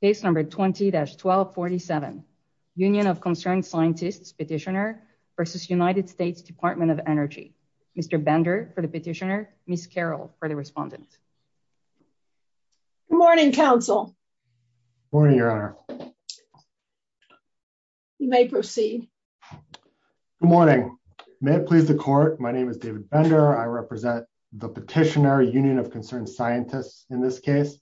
case number 20-1247 union of concerned scientists petitioner versus united states department of energy mr bender for the petitioner miss carol for the respondent good morning counsel morning your honor you may proceed good morning may it please the court my name is david bender i represent the petitioner union of concerned scientists in this case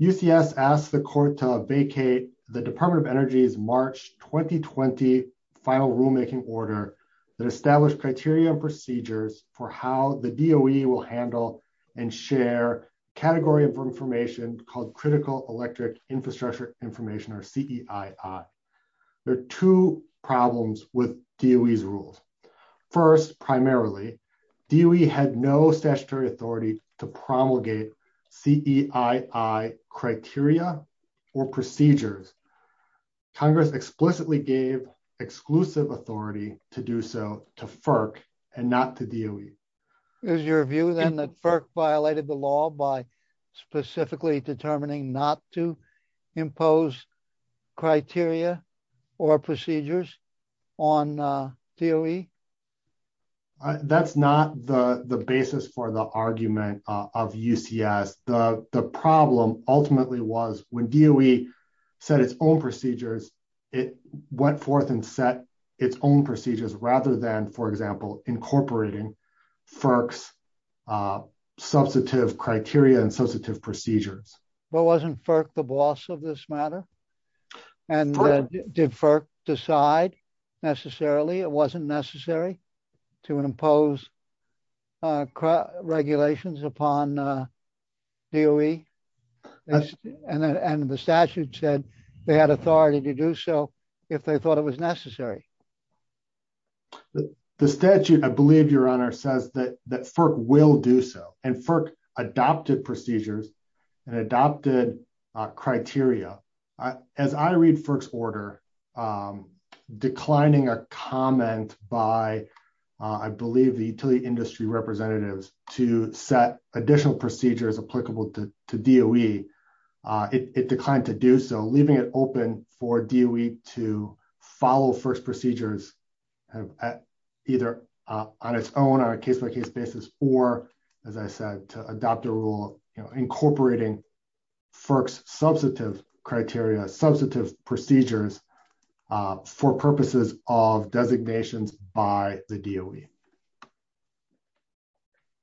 ucs asked the court to vacate the department of energy's march 2020 final rulemaking order that established criteria and procedures for how the doe will handle and share category of information called critical electric infrastructure information or ceii there are two problems with doe's rules first primarily doe had no statutory authority to promulgate ceii criteria or procedures congress explicitly gave exclusive authority to do so to FERC and not to do is your view then that FERC violated the law by specifically determining not to impose criteria or procedures on DOE that's not the the basis for the argument of UCS the the problem ultimately was when DOE set its own procedures it went forth and set its own procedures rather than for example incorporating FERC's substantive criteria and substantive procedures but wasn't FERC the boss of this matter and did FERC decide necessarily it wasn't necessary to impose regulations upon DOE and and the statute said they had authority to do so if they thought it was necessary the statute i believe your honor says that that FERC will do so and FERC adopted procedures and adopted criteria as i read FERC's order declining a comment by i believe the utility industry representatives to set additional procedures applicable to DOE it declined to do so leaving it open for DOE to follow FERC's procedures either on its own on a case-by-case basis or as i said to adopt a rule you know incorporating FERC's substantive criteria substantive procedures for purposes of designations by the DOE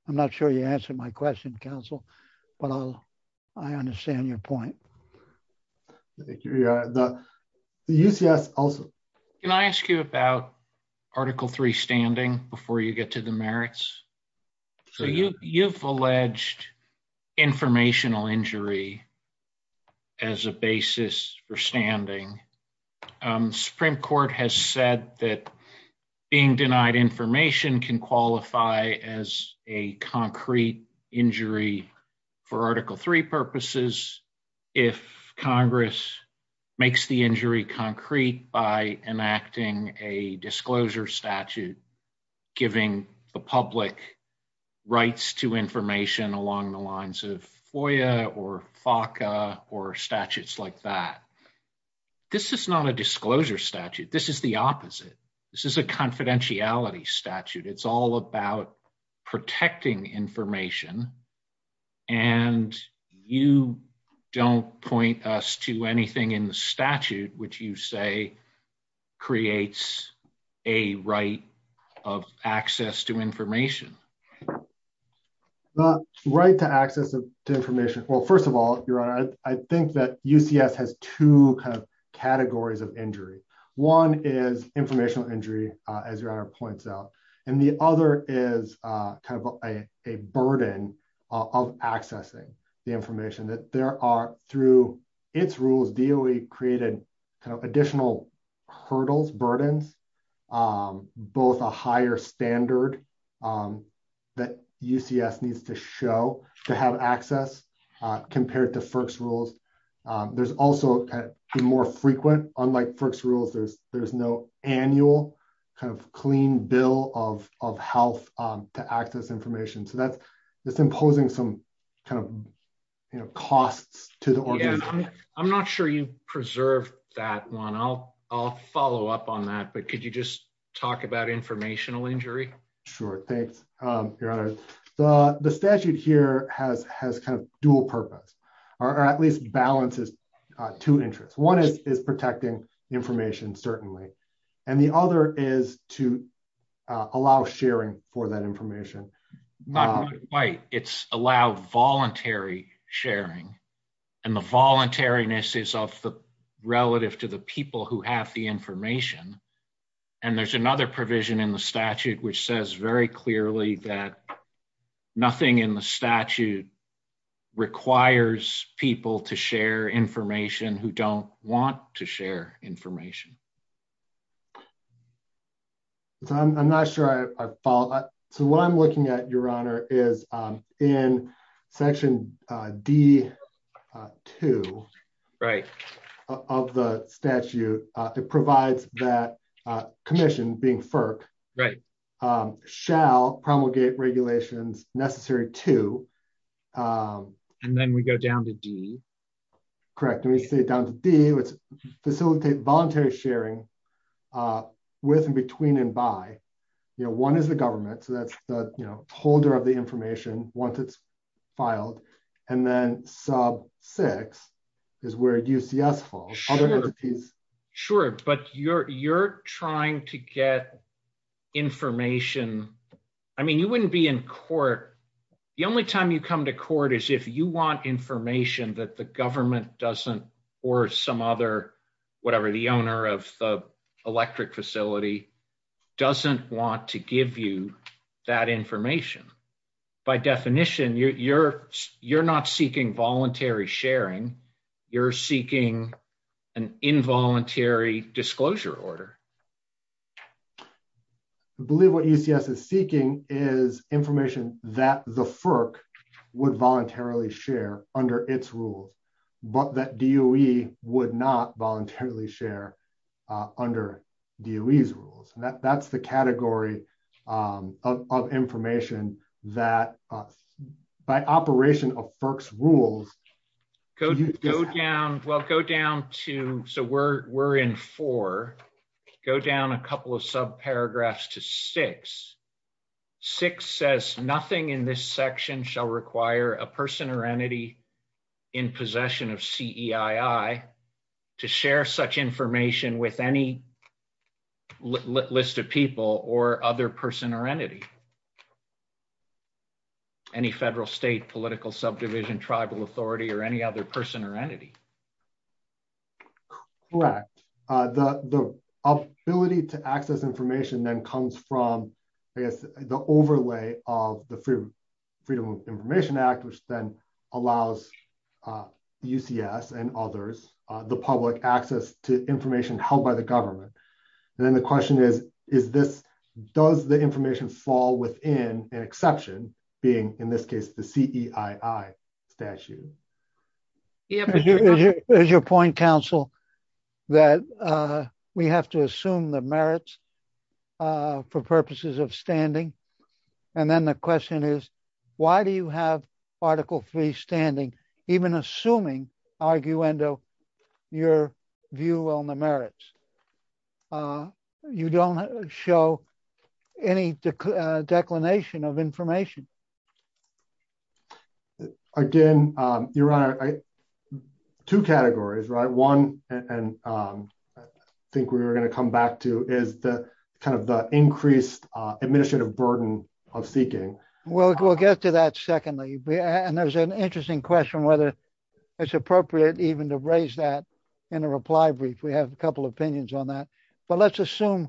i'm not sure you answered my question counsel but i'll i understand your point the UCS also can i ask you about article 3 standing before you get to the merits so you you've alleged informational injury as a basis for standing um supreme court has said that being denied information can qualify as a concrete injury for article 3 purposes if congress makes the injury concrete by enacting a disclosure statute giving the public rights to information along the lines of FOIA or FACA or statutes like that this is not a disclosure statute this is the opposite this is a confidentiality statute it's all about protecting information and you don't point us to anything in the statute which you say creates a right of access to information the right to access to information well first of all your honor i think that UCS has two kind of categories of injury one is informational injury as your honor points out and the other is uh kind of a a burden of accessing the information that there are through its rules DOE created kind of additional hurdles burdens um both a higher standard um that UCS needs to show to have access uh compared to FERC's rules there's also more frequent unlike FERC's rules there's there's no annual kind of clean bill of of health um to access information so that's it's imposing some kind of you know costs to the organization i'm not sure you preserved that one i'll i'll follow up on that but could you just talk about informational injury sure thanks um your honor the the statute here has has kind of or at least balances uh two interests one is is protecting information certainly and the other is to allow sharing for that information not quite it's allow voluntary sharing and the voluntariness is of the relative to the people who have the information and there's another provision in the people to share information who don't want to share information so i'm not sure i followed so what i'm looking at your honor is um in section uh d uh two right of the statute uh it provides that uh commission being FERC right um shall promulgate regulations necessary to um and then we go down to d correct let me say it down to d let's facilitate voluntary sharing uh with and between and by you know one is the government so that's the you know holder of the information once it's filed and then sub six is where ucs is sure but you're you're trying to get information i mean you wouldn't be in court the only time you come to court is if you want information that the government doesn't or some other whatever the owner of the electric facility doesn't want to give you that information by definition you're you're not seeking voluntary sharing you're seeking an involuntary disclosure order i believe what ucs is seeking is information that the FERC would voluntarily share under its rules but that doe would not voluntarily share uh under doe's rules and that that's the category um of information that by operation of FERC's rules go down well go down to so we're we're in four go down a couple of sub paragraphs to six six says nothing in this section shall require a person or entity in possession of ceii to share such information with any list of people or other person or entity any federal state political subdivision tribal authority or any other person or entity correct uh the the ability to access information then comes from i guess the then allows uh ucs and others uh the public access to information held by the government and then the question is is this does the information fall within an exception being in this case the ceii statute here's your point counsel that uh we have to assume the merits uh for purposes of standing and then the question is why do you have article three standing even assuming arguendo your view on the merits uh you don't show any declination of information again um your honor two categories right one and um i think we were going to come back to is the kind of the increased uh administrative burden of seeking well we'll get to that secondly and there's an interesting question whether it's appropriate even to raise that in a reply brief we have a couple opinions on that but let's assume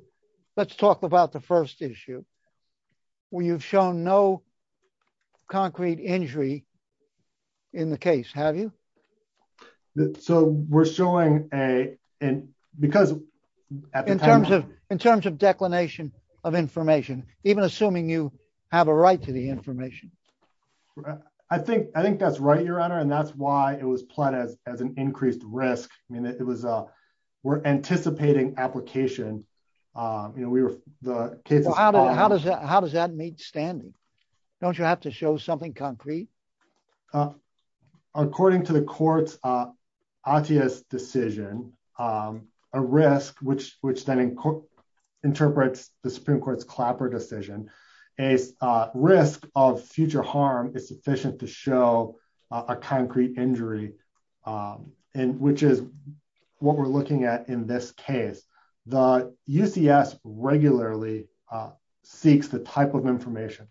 let's talk about the first issue where you've shown no concrete injury in the case have you so we're showing a and because in terms of in terms of declination of information even assuming you have a right to the information i think i think that's right your honor and that's why it was played as as an increased risk i mean it was uh we're anticipating application um you know we were the case how does that how does that meet standing don't you have to show something concrete uh according to the court's uh athia's decision um a risk which which then interprets the supreme court's clapper decision a risk of future harm is sufficient to show a concrete injury um and which is what we're looking at in this case the ucs regularly uh seeks the type of information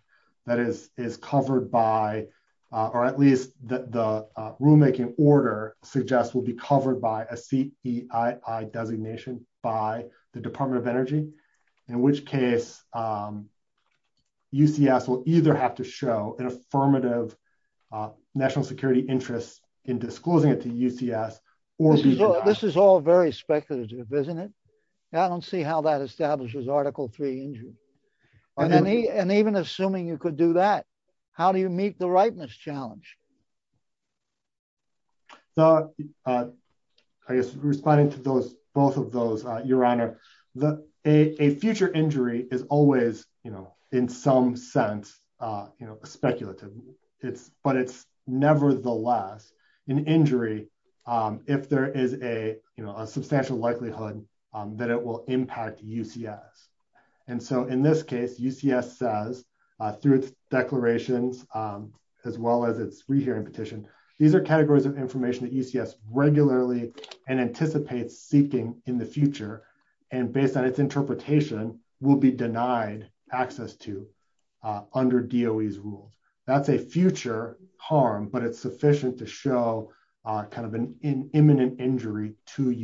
that is is covered by uh or at least that the rulemaking order suggests will be covered by a cei designation by the department of energy in which case um ucs will either have to show an affirmative national security interest in disclosing it to ucs or this is all very isn't it i don't see how that establishes article three injury and even assuming you could do that how do you meet the rightness challenge so uh i guess responding to those both of those uh your honor the a future injury is always you know in some sense uh you know speculative it's but it's nevertheless an injury um if there is a you know a substantial likelihood um that it will impact ucs and so in this case ucs says uh through its declarations um as well as its rehearing petition these are categories of information that ucs regularly and anticipates seeking in the future and based on its interpretation will be denied access to uh under doe's rules that's a future harm but it's a right to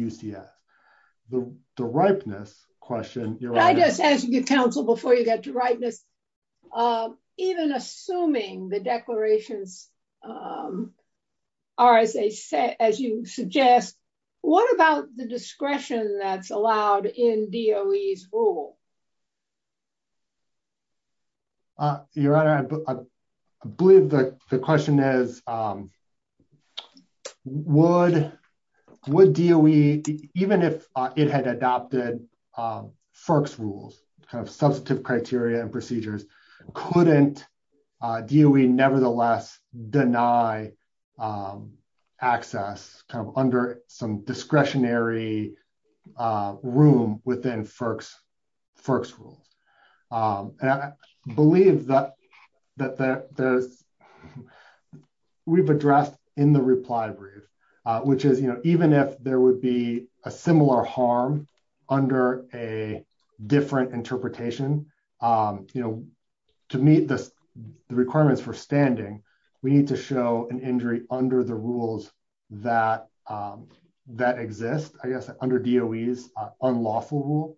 ucs the the ripeness question i guess as you get counsel before you get to ripeness um even assuming the declarations um are as they say as you suggest what about the discretion that's allowed in doe's rule uh your honor i believe the the question is um would would doe even if uh it had adopted um firks rules kind of substantive criteria and procedures couldn't uh do we nevertheless deny um access kind of under some discretionary uh room within firks firks rules um and i believe that that there's we've addressed in the reply brief uh which is you know even if there would be a similar harm under a different interpretation um you know to meet this the requirements for we need to show an injury under the rules that um that exist i guess under doe's unlawful rule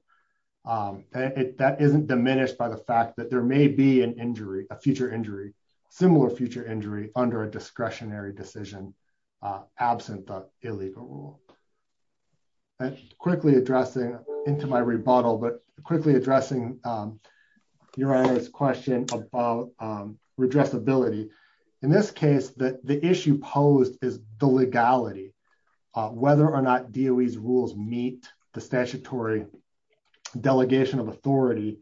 um it that isn't diminished by the fact that there may be an injury a future injury similar future injury under a discretionary decision uh absent the illegal rule and quickly addressing into my rebuttal but quickly addressing um your honor's question about redressability in this case that the issue posed is the legality whether or not doe's rules meet the statutory delegation of authority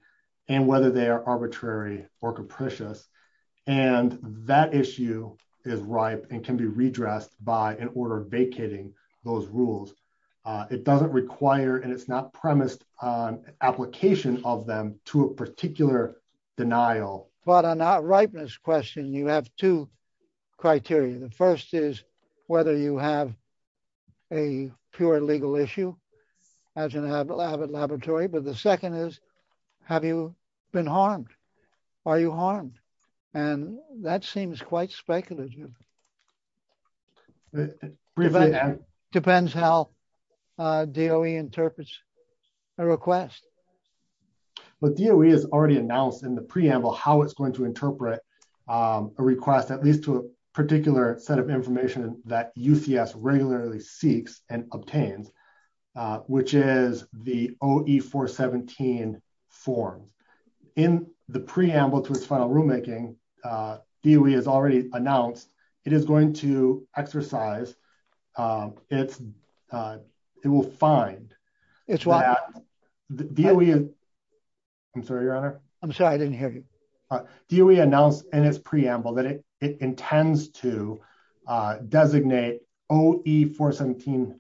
and whether they are arbitrary or capricious and that issue is ripe and can be redressed by an order vacating those rules uh it doesn't require and it's not ripeness question you have two criteria the first is whether you have a pure legal issue as an avid laboratory but the second is have you been harmed are you harmed and that seems quite speculative depends how uh doe interprets a request but doe has already announced in the um a request at least to a particular set of information that ucs regularly seeks and obtains which is the oe417 form in the preamble to its final rulemaking uh doe has already announced it is going to exercise um it's uh it will find it's why do we i'm sorry your honor i'm sorry i in its preamble that it it intends to uh designate oe417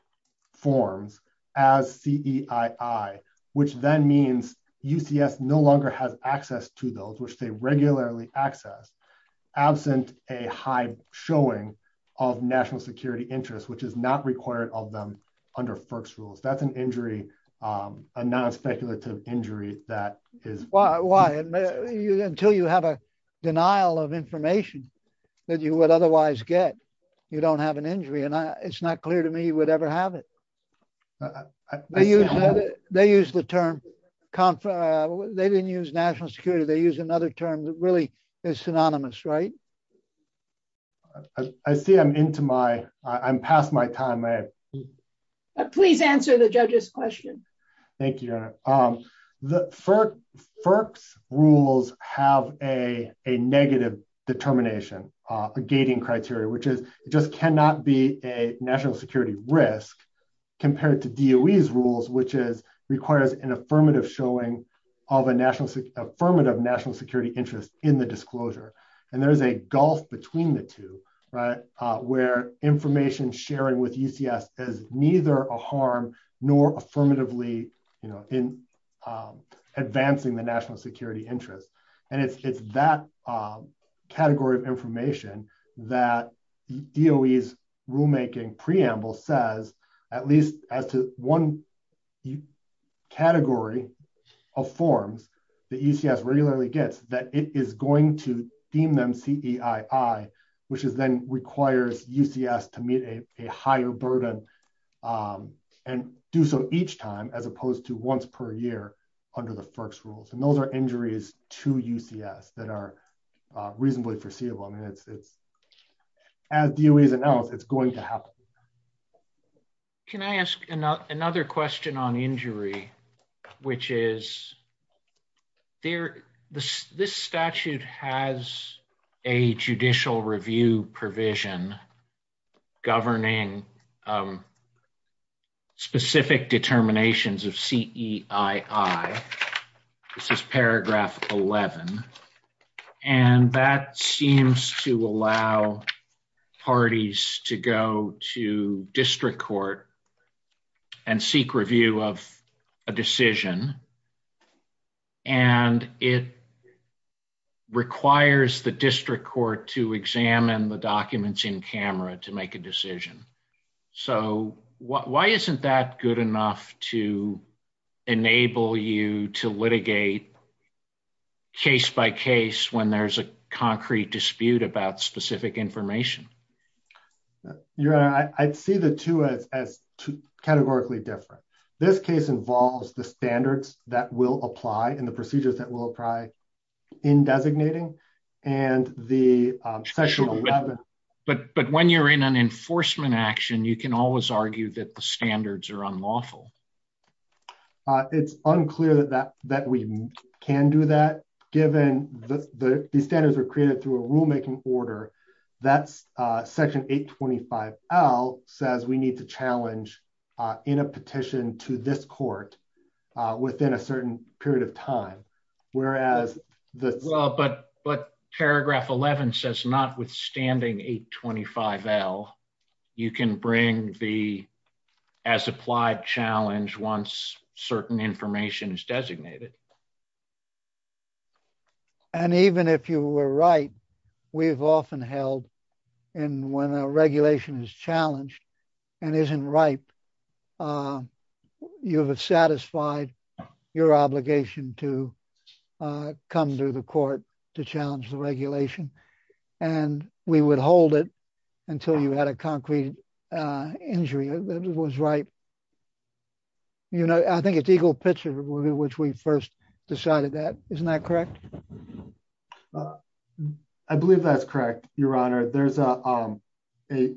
forms as ceii which then means ucs no longer has access to those which they regularly access absent a high showing of national security interest which is not required of them under first rules that's an injury um non-speculative injury that is why why until you have a denial of information that you would otherwise get you don't have an injury and i it's not clear to me you would ever have it they use the term they didn't use national security they use another term that really is synonymous right i see i'm into my i'm past my time may i please answer the judge's question thank you um the firk firks rules have a a negative determination uh a gating criteria which is it just cannot be a national security risk compared to doe's rules which is requires an affirmative showing of a national affirmative national security interest in the disclosure and there's a gulf between the two right uh where information sharing with ucs is neither a harm nor affirmatively you know in um advancing the national security interest and it's it's that um category of information that doe's rulemaking preamble says at least as to one category of forms that ucs regularly gets that it is going to deem them ceii which is then requires ucs to meet a a higher burden um and do so each time as opposed to once per year under the firks rules and those are injuries to ucs that are uh reasonably foreseeable i mean it's it's as doe's announced it's going to happen can i ask another question on injury which is there this this statute has a judicial review provision governing um specific determinations of ceii this is paragraph 11 and that seems to allow parties to go to district court and seek review of a decision and it requires the district court to examine the documents in camera to make a decision so why isn't that good enough to enable you to litigate case by case when there's a concrete dispute about specific information yeah your honor i'd see the two as as categorically different this case involves the standards that will apply and the procedures that will apply in designating and the session but but when you're in an enforcement action you can always argue that the standards are unlawful it's unclear that that that we can do that given the the standards are created through rulemaking order that's uh section 825 l says we need to challenge uh in a petition to this court within a certain period of time whereas the well but but paragraph 11 says not withstanding 825 l you can bring the as applied challenge once certain information is designated it and even if you were right we've often held and when a regulation is challenged and isn't ripe you have satisfied your obligation to uh come to the court to challenge the regulation and we would hold it until you had a concrete uh injury that was right you know i think it's eagle pitcher which we first decided that isn't that correct i believe that's correct your honor there's a um a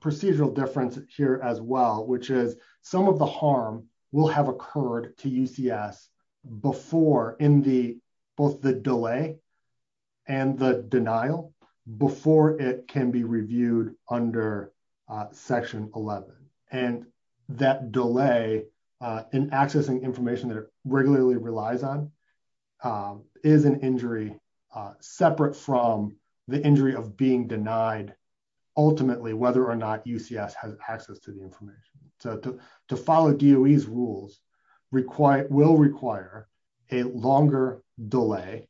procedural difference here as well which is some of the harm will have occurred to ucs before in the both the delay and the denial before it can be reviewed under uh section 11 and that delay uh in accessing information that it regularly relies on um is an injury uh separate from the injury of being denied ultimately whether or not ucs has access to the information so to to follow doe's rules require will require a longer delay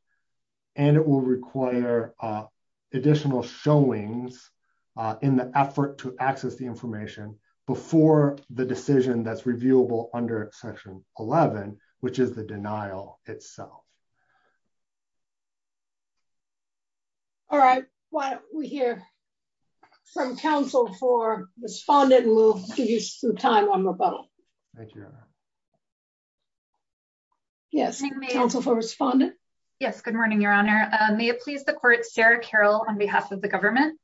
and it will require uh additional showings uh in the effort to access the information before the decision that's reviewable under section 11 which is the denial itself all right why don't we hear from counsel for respondent and we'll give you some time on yes counsel for respondent yes good morning your honor may it please the court sarah carroll on behalf of the government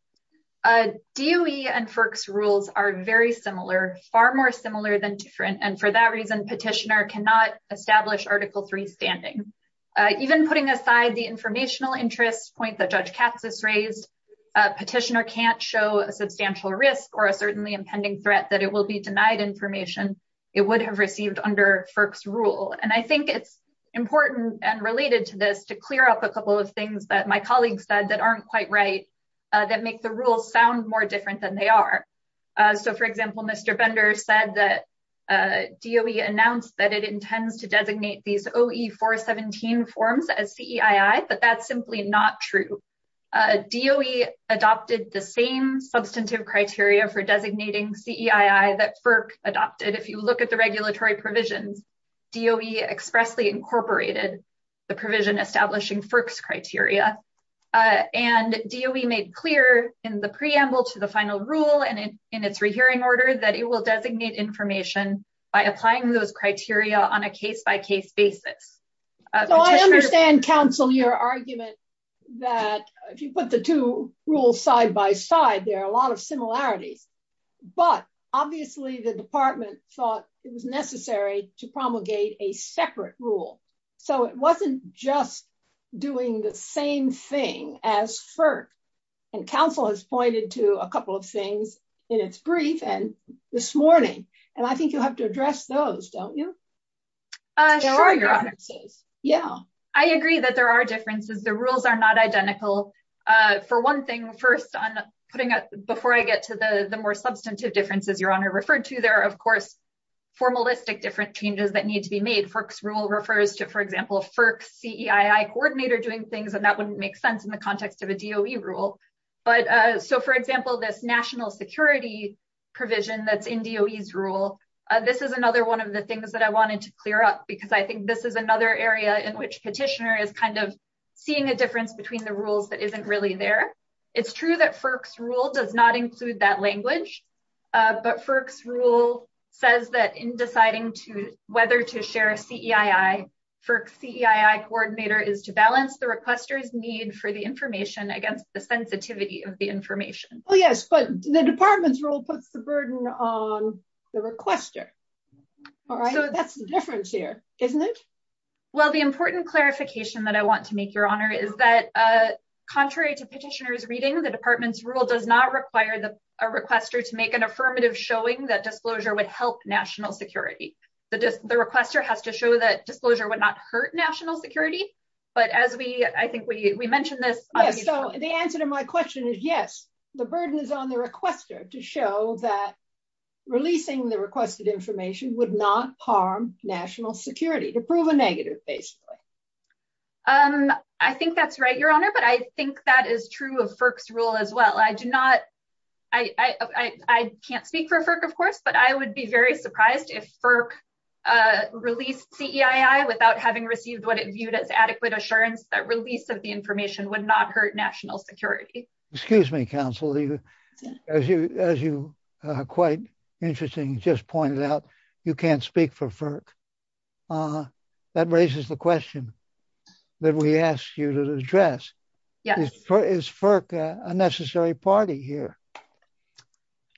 uh doe and firks rules are very similar far more similar than different and for that reason petitioner cannot establish article three standing uh even putting aside the informational interest point that judge katz has raised a petitioner can't show a substantial risk or a certainly impending threat that it will be denied information it would have received under firks rule and i think it's important and related to this to clear up a couple of things that my colleague said that aren't quite right that make the rules sound more different than they are so for example mr bender said that doe announced that it intends to designate these oe 417 forms as ceii but that's simply not true doe adopted the same substantive criteria for designating ceii that firk adopted if you look at the regulatory provisions doe expressly incorporated the provision establishing firks criteria and doe made clear in the preamble to the final rule and in its rehearing order that it will designate information by applying those criteria on a case-by-case basis so i understand counsel your argument that if you put the two rules side by side there are a lot of similarities but obviously the department thought it was necessary to promulgate a separate rule so it wasn't just doing the same thing as firk and counsel has pointed to a couple of things in its brief and this morning and i think you have to address those don't you uh there are your answers yeah i agree that there are differences the rules are not identical uh for one thing first on putting a before i get to the the more substantive differences your honor referred to there are of course formalistic different changes that need to be made forks rule refers to for example firk ceii coordinator doing things and that wouldn't make sense in the context of a doe rule but uh so for example this national security provision that's in doe's rule uh this is another one of the things that i wanted to clear up because i think this is another area in which petitioner is kind of seeing a difference between the rules that isn't really there it's true that firk's rule does not include that language uh but firk's rule says that in deciding to whether to share a ceii firk ceii coordinator is to balance the requester's need for the information against the sensitivity of the information well yes but the department's rule puts the burden on the requester all right so that's the difference here isn't it well the important clarification that i want to make your honor is that uh contrary to petitioner's reading the department's rule does not require the a requester to make an affirmative showing that disclosure would help national security the just the requester has to show that disclosure would not hurt national security but as we i think we we mentioned this so the answer to my question is yes the burden is on the requester to show that releasing the requested information would not harm national security to prove a negative basically um i think that's right your honor but i think that is true of firk's rule as well i do not i i i can't speak for firk of course but i would be very surprised if firk uh released ceii without having received what it viewed as adequate assurance that release of the information would not hurt national security excuse me counsel you as you as you uh quite interesting just pointed out you can't speak for firk uh that raises the question that we asked you to address yes is firk a necessary party here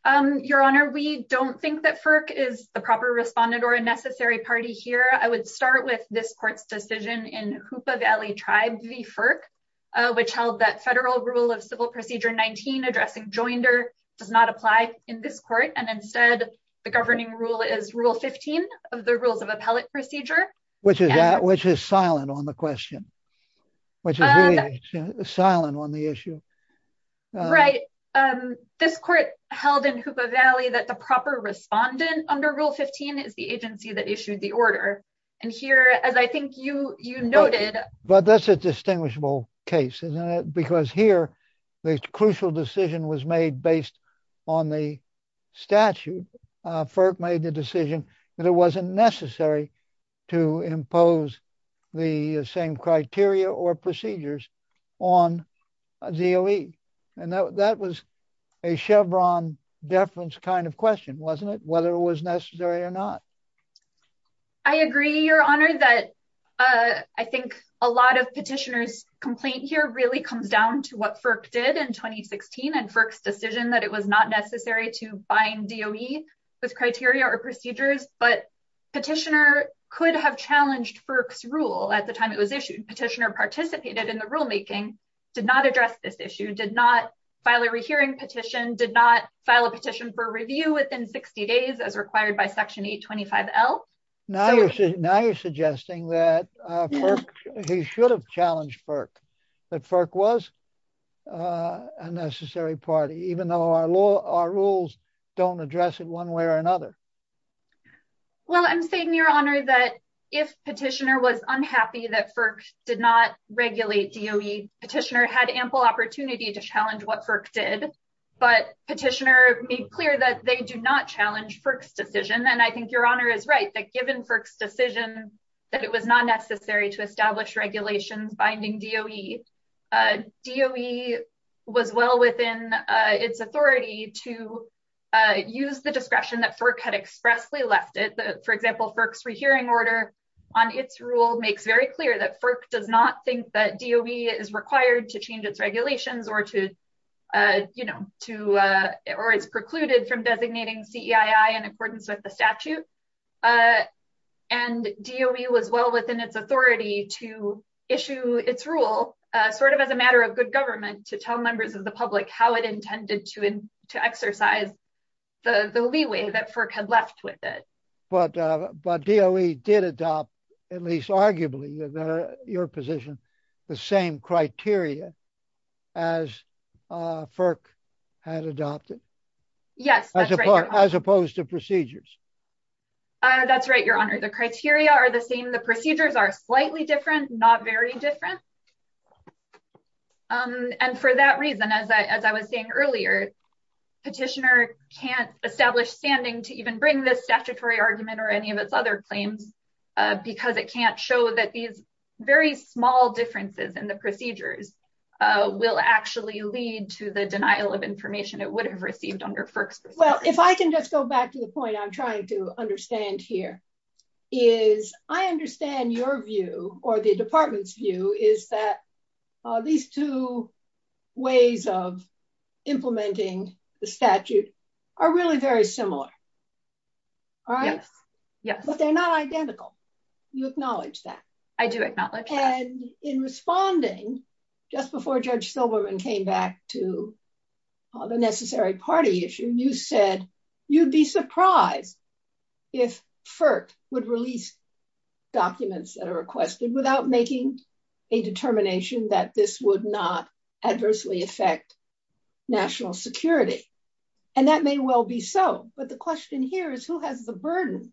um your honor we don't think that firk is the proper respondent or a necessary party here i would start with this court's decision in hoopa valley tribe v firk which held that federal rule of civil procedure 19 addressing joinder does not apply in this court and instead the governing rule is rule 15 of the rules of appellate procedure which is that which is silent on the question which is silent on the issue right um this court held in hoopa valley that the proper respondent under rule 15 is the agency that issued the order and here as i think you you noted but that's a distinguishable case isn't it because here the crucial decision was made based on the statute uh firk made the decision that it wasn't necessary to impose the same criteria or procedures on zeoe and that that was a chevron deference kind of question wasn't it whether it was necessary or not i agree your honor that uh i think a lot of petitioners complaint here really comes down to what firk did in 2016 and firk's decision that it was not necessary to bind doe with criteria or procedures but petitioner could have challenged firk's rule at the time it was issued petitioner participated in the rule did not address this issue did not file a rehearing petition did not file a petition for review within 60 days as required by section 825l now you're now you're suggesting that uh he should have challenged firk that firk was uh a necessary party even though our law our rules don't address it one way or another well i'm saying your honor that if petitioner was unhappy that firk did not regulate doe petitioner had ample opportunity to challenge what firk did but petitioner made clear that they do not challenge firk's decision and i think your honor is right that given firk's decision that it was not necessary to establish regulations binding doe uh doe was well within uh its authority to uh use the discretion that firk expressly left it for example firk's rehearing order on its rule makes very clear that firk does not think that doe is required to change its regulations or to uh you know to uh or it's precluded from designating ceii in accordance with the statute uh and doe was well within its authority to issue its rule uh sort of as a matter of good government to tell members of the public how it left with it but uh but doe did adopt at least arguably your position the same criteria as uh firk had adopted yes as opposed to procedures uh that's right your honor the criteria are the same the procedures are slightly different not very different um and for that reason as i as i was saying earlier petitioner can't establish standing to even bring this statutory argument or any of its other claims because it can't show that these very small differences in the procedures will actually lead to the denial of information it would have received under firk's well if i can just go back to the point i'm trying to understand here is i understand your view or the department's view is that uh these two ways of implementing the statute are really very similar all right yes but they're not identical you acknowledge that i do acknowledge and in responding just before judge silverman came back to the necessary party issue you said you'd be surprised if firk would release documents that are requested without making a determination that this would not adversely affect national security and that may well be so but the question here is who has the burden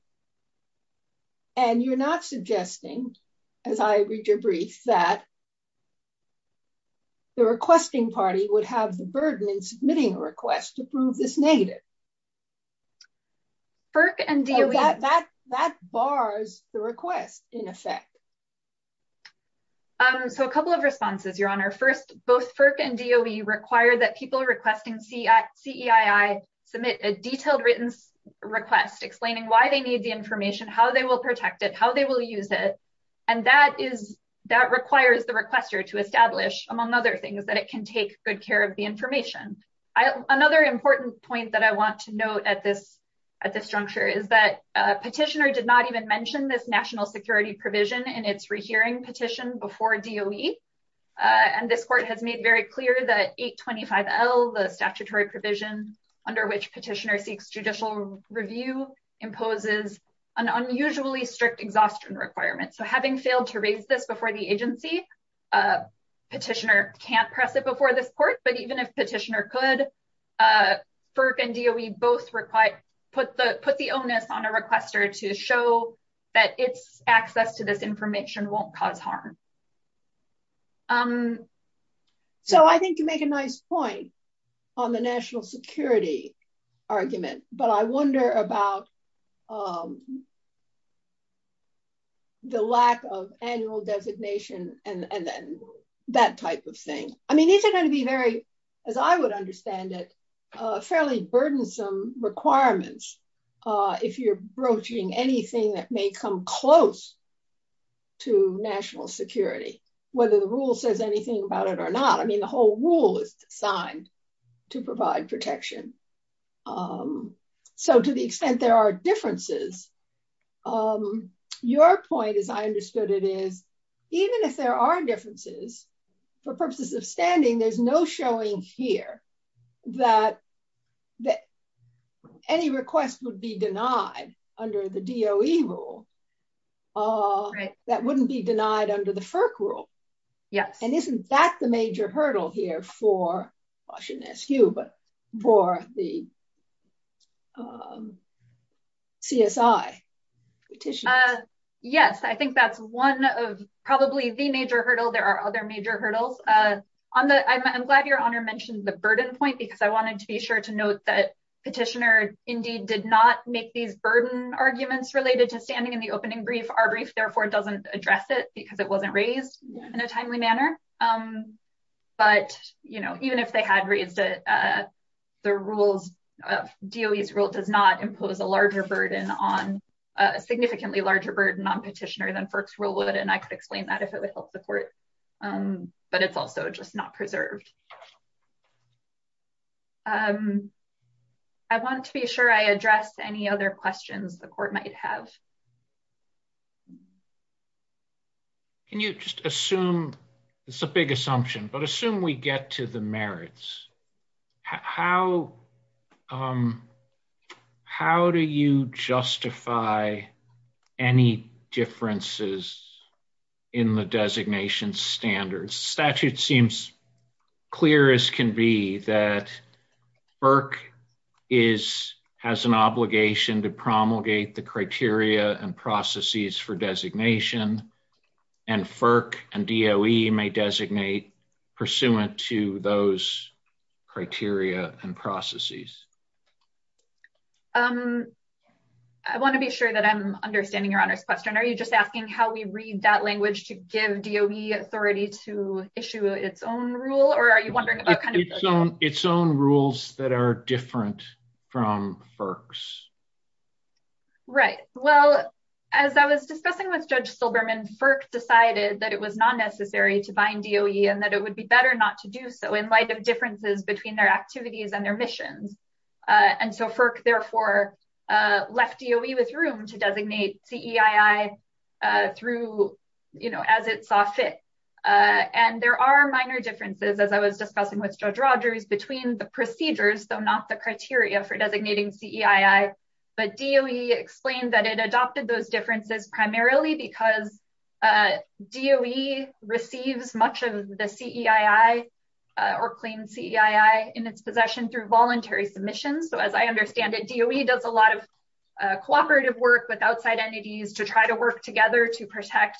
and you're not suggesting as i read your brief that the requesting party would have the burden in submitting a request to prove this negative firk and do that that that bars the request in effect um so a couple of responses your honor first both firk and do we require that people requesting c at ceii submit a detailed written request explaining why they need the information how they will protect it how they will use it and that is that requires the requester to establish among other things that it can take good care of the information i another important point that i want to note at this at this juncture is that a petitioner did not even mention this national security provision in its rehearing petition before doe and this court has made very clear that 825l the statutory provision under which petitioner seeks judicial review imposes an unusually strict exhaustion requirement so having failed to raise this before the agency a petitioner can't press it before the court but even if petitioner could uh firk and doe both require put the put the onus on a requester to show that its access to this information won't cause harm um so i think you make a nice point on the national security argument but i wonder about um the lack of annual designation and and then that type of thing i mean these are going to be very as i would understand it uh fairly burdensome requirements uh if you're broaching anything that may come close to national security whether the rule says anything about it or not i mean the whole rule is designed to provide protection um so to the extent there are differences um your point as i understood it is even if there are differences for purposes of standing there's no showing here that that any request would be denied under the doe rule uh that wouldn't be denied under the firk rule yes and isn't that the major hurdle here for i shouldn't ask you but for the um csi petition uh yes i think that's one of probably the major hurdle there are other major hurdles uh on the i'm glad your honor mentioned the burden point because i wanted to be sure to note that petitioner indeed did not make these burden arguments related to standing in the opening brief our brief therefore doesn't address it because it wasn't raised in a timely manner um but you know even if they had raised it uh the rules of doe's rule does not impose a larger burden on a significantly larger burden on petitioner than firks rule would and i could explain that if it would help the court um but it's also just not preserved um i want to be sure i address any other questions the court might have um can you just assume it's a big assumption but assume we get to the merits how um how do you justify any differences in the designation standards statute seems clear as can be that burke is has an obligation to promulgate the criteria and processes for designation and firk and doe may designate pursuant to those criteria and processes um i want to be sure that i'm understanding your honor's question are you just asking how we read that language to give doe authority to issue its own rule or are you wondering its own rules that are different from firks right well as i was discussing with judge silberman firk decided that it was not necessary to bind doe and that it would be better not to do so in light of differences between their activities and their missions uh and so firk therefore uh left doe with room to designate ceii uh through you know as it saw fit uh and there are minor differences as i was discussing with judge rogers between the procedures though not the criteria for designating ceii but doe explained that it adopted those differences primarily because uh doe receives much of the ceii or clean ceii in its possession through voluntary submissions so as i understand it doe does a lot of cooperative work with outside entities to try to work together to protect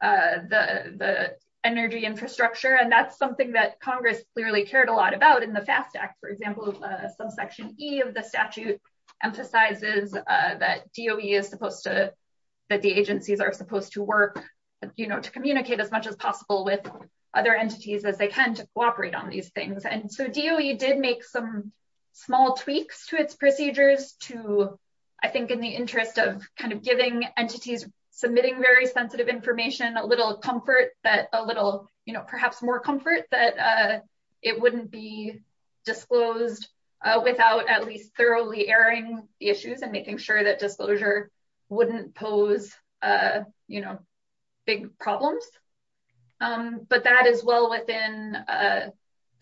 uh the the energy infrastructure and that's something that congress clearly cared a lot about in the fast act for example subsection e of the statute emphasizes uh that doe is supposed to that the agencies are supposed to work you know to communicate as much as possible with other entities as they can to cooperate on these and so doe did make some small tweaks to its procedures to i think in the interest of kind of giving entities submitting very sensitive information a little comfort that a little you know perhaps more comfort that uh it wouldn't be disclosed uh without at least thoroughly airing the issues and making sure that disclosure wouldn't pose uh you know big problems um but that is well within uh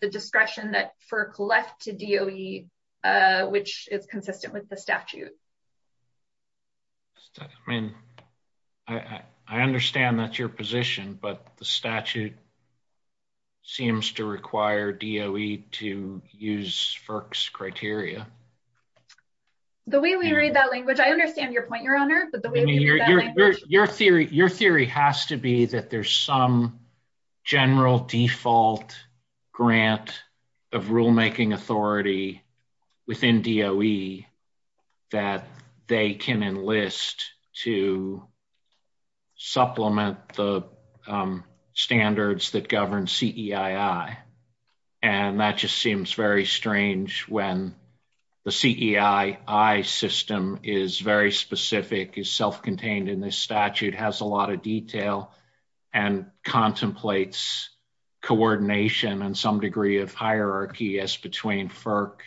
the discretion that firk left to doe uh which is consistent with the statute i mean i i understand that's your position but the statute seems to require doe to use firk's criteria the way we read that language i understand your point your honor but the way your theory your theory has to be that there's some general default grant of rulemaking authority within doe that they can enlist to supplement the standards that govern ceii and that just seems very strange when the ceii system is very specific is self-contained in this statute has a lot of detail and contemplates coordination and some degree of hierarchy as between firk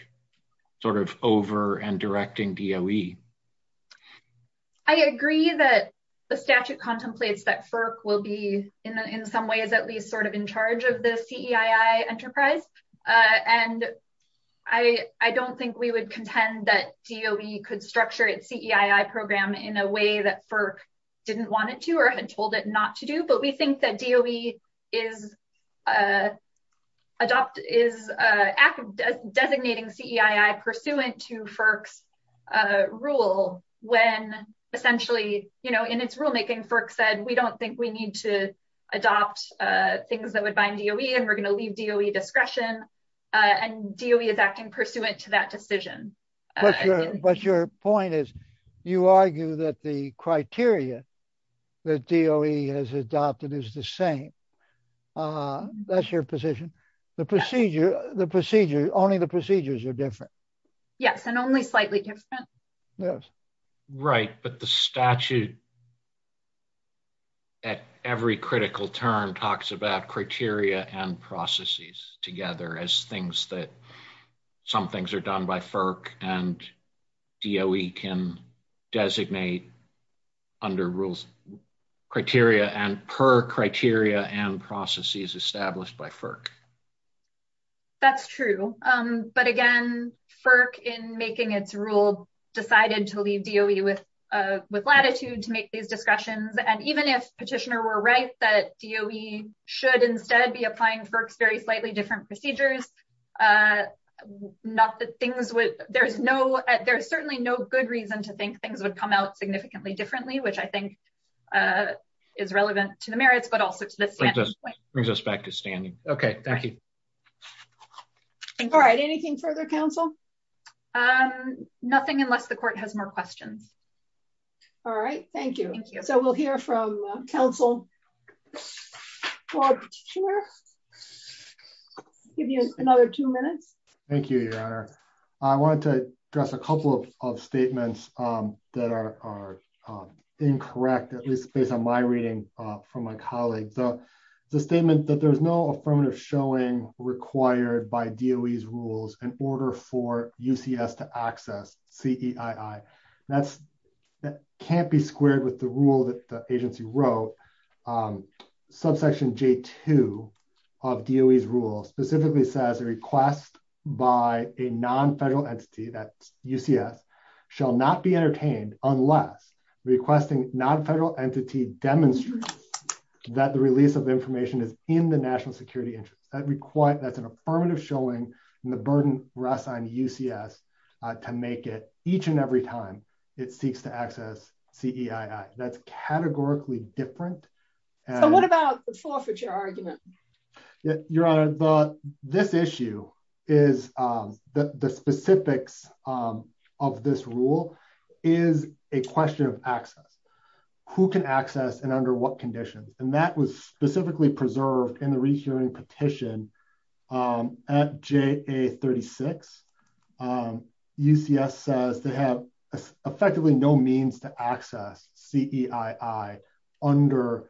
sort of over and directing doe i agree that the statute contemplates that firk will be in in some ways at least sort of in charge of the ceii enterprise uh and i i don't think we would contend that doe could structure its ceii program in a way that firk didn't want it to or had told it not to do but we think that doe is uh adopt is a act of designating ceii pursuant to firks uh rule when essentially you know in its rulemaking firk said we don't think need to adopt uh things that would bind doe and we're going to leave doe discretion and doe is acting pursuant to that decision but your point is you argue that the criteria that doe has adopted is the same uh that's your position the procedure the procedure only the procedures are different yes and only slightly different yes right but the statute at every critical term talks about criteria and processes together as things that some things are done by firk and doe can designate under rules criteria and per criteria and processes established by firk that's true um but again firk in making its rule decided to leave doe with uh with latitude to make these discretions and even if petitioner were right that doe should instead be applying firks very slightly different procedures uh not that things would there's no there's certainly no good reason to think things would come out significantly differently which i think is relevant to the merits but also to this brings us back to standing okay thank you all right anything further counsel um nothing unless the court has more questions all right thank you thank you so we'll hear from counsel for sure give you another two minutes thank you your honor i wanted to address a couple of statements um that are are incorrect at least based on my reading uh from my colleague the the statement that there's no affirmative showing required by doe's rules in order for that can't be squared with the rule that the agency wrote um subsection j2 of doe's rules specifically says a request by a non-federal entity that ucs shall not be entertained unless requesting non-federal entity demonstrates that the release of information is in the national security interest that requires that's an affirmative showing and the burden rests on ucs to make it each and every time it seeks to access ceii that's categorically different so what about the forfeiture argument your honor the this issue is um the the specifics um of this rule is a question of access who can access and under what conditions and that was specifically preserved in the rehearing petition um at ja36 um ucs says they have effectively no means to access ceii under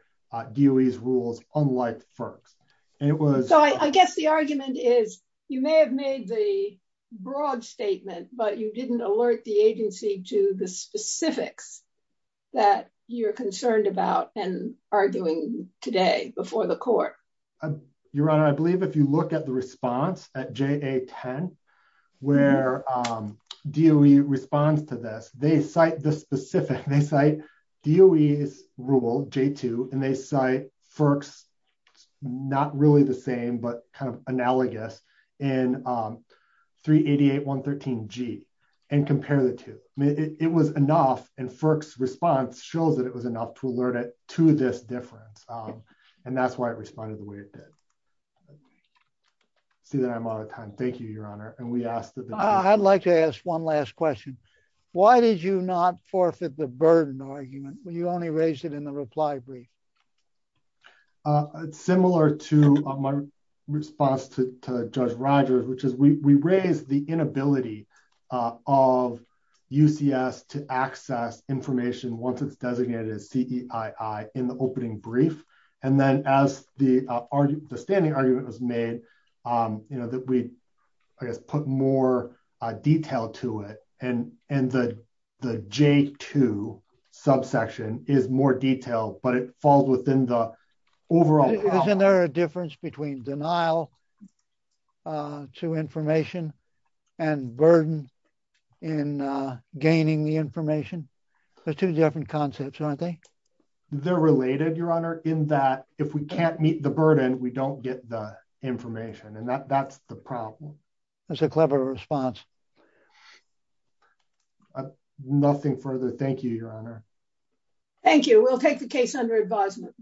doe's rules unlike firks and it was so i guess the argument is you may have made the broad statement but you didn't alert the agency to the specifics that you're concerned about and the court your honor i believe if you look at the response at ja10 where um doe responds to this they cite the specific they cite doe's rule j2 and they cite firks not really the same but kind of analogous in um 388 113 g and compare the two it was enough and firks response shows that it was did see that i'm out of time thank you your honor and we asked i'd like to ask one last question why did you not forfeit the burden argument when you only raised it in the reply brief uh similar to my response to to judge rogers which is we we raised the inability of ucs to access information once it's designated as ceii in the opening brief and then as the argument the standing argument was made um you know that we i guess put more uh detail to it and and the the j2 subsection is more detailed but it falls within the overall isn't there a difference between denial uh to information and burden in uh the information there's two different concepts aren't they they're related your honor in that if we can't meet the burden we don't get the information and that that's the problem that's a clever response nothing further thank you your honor thank you we'll take the case under advisement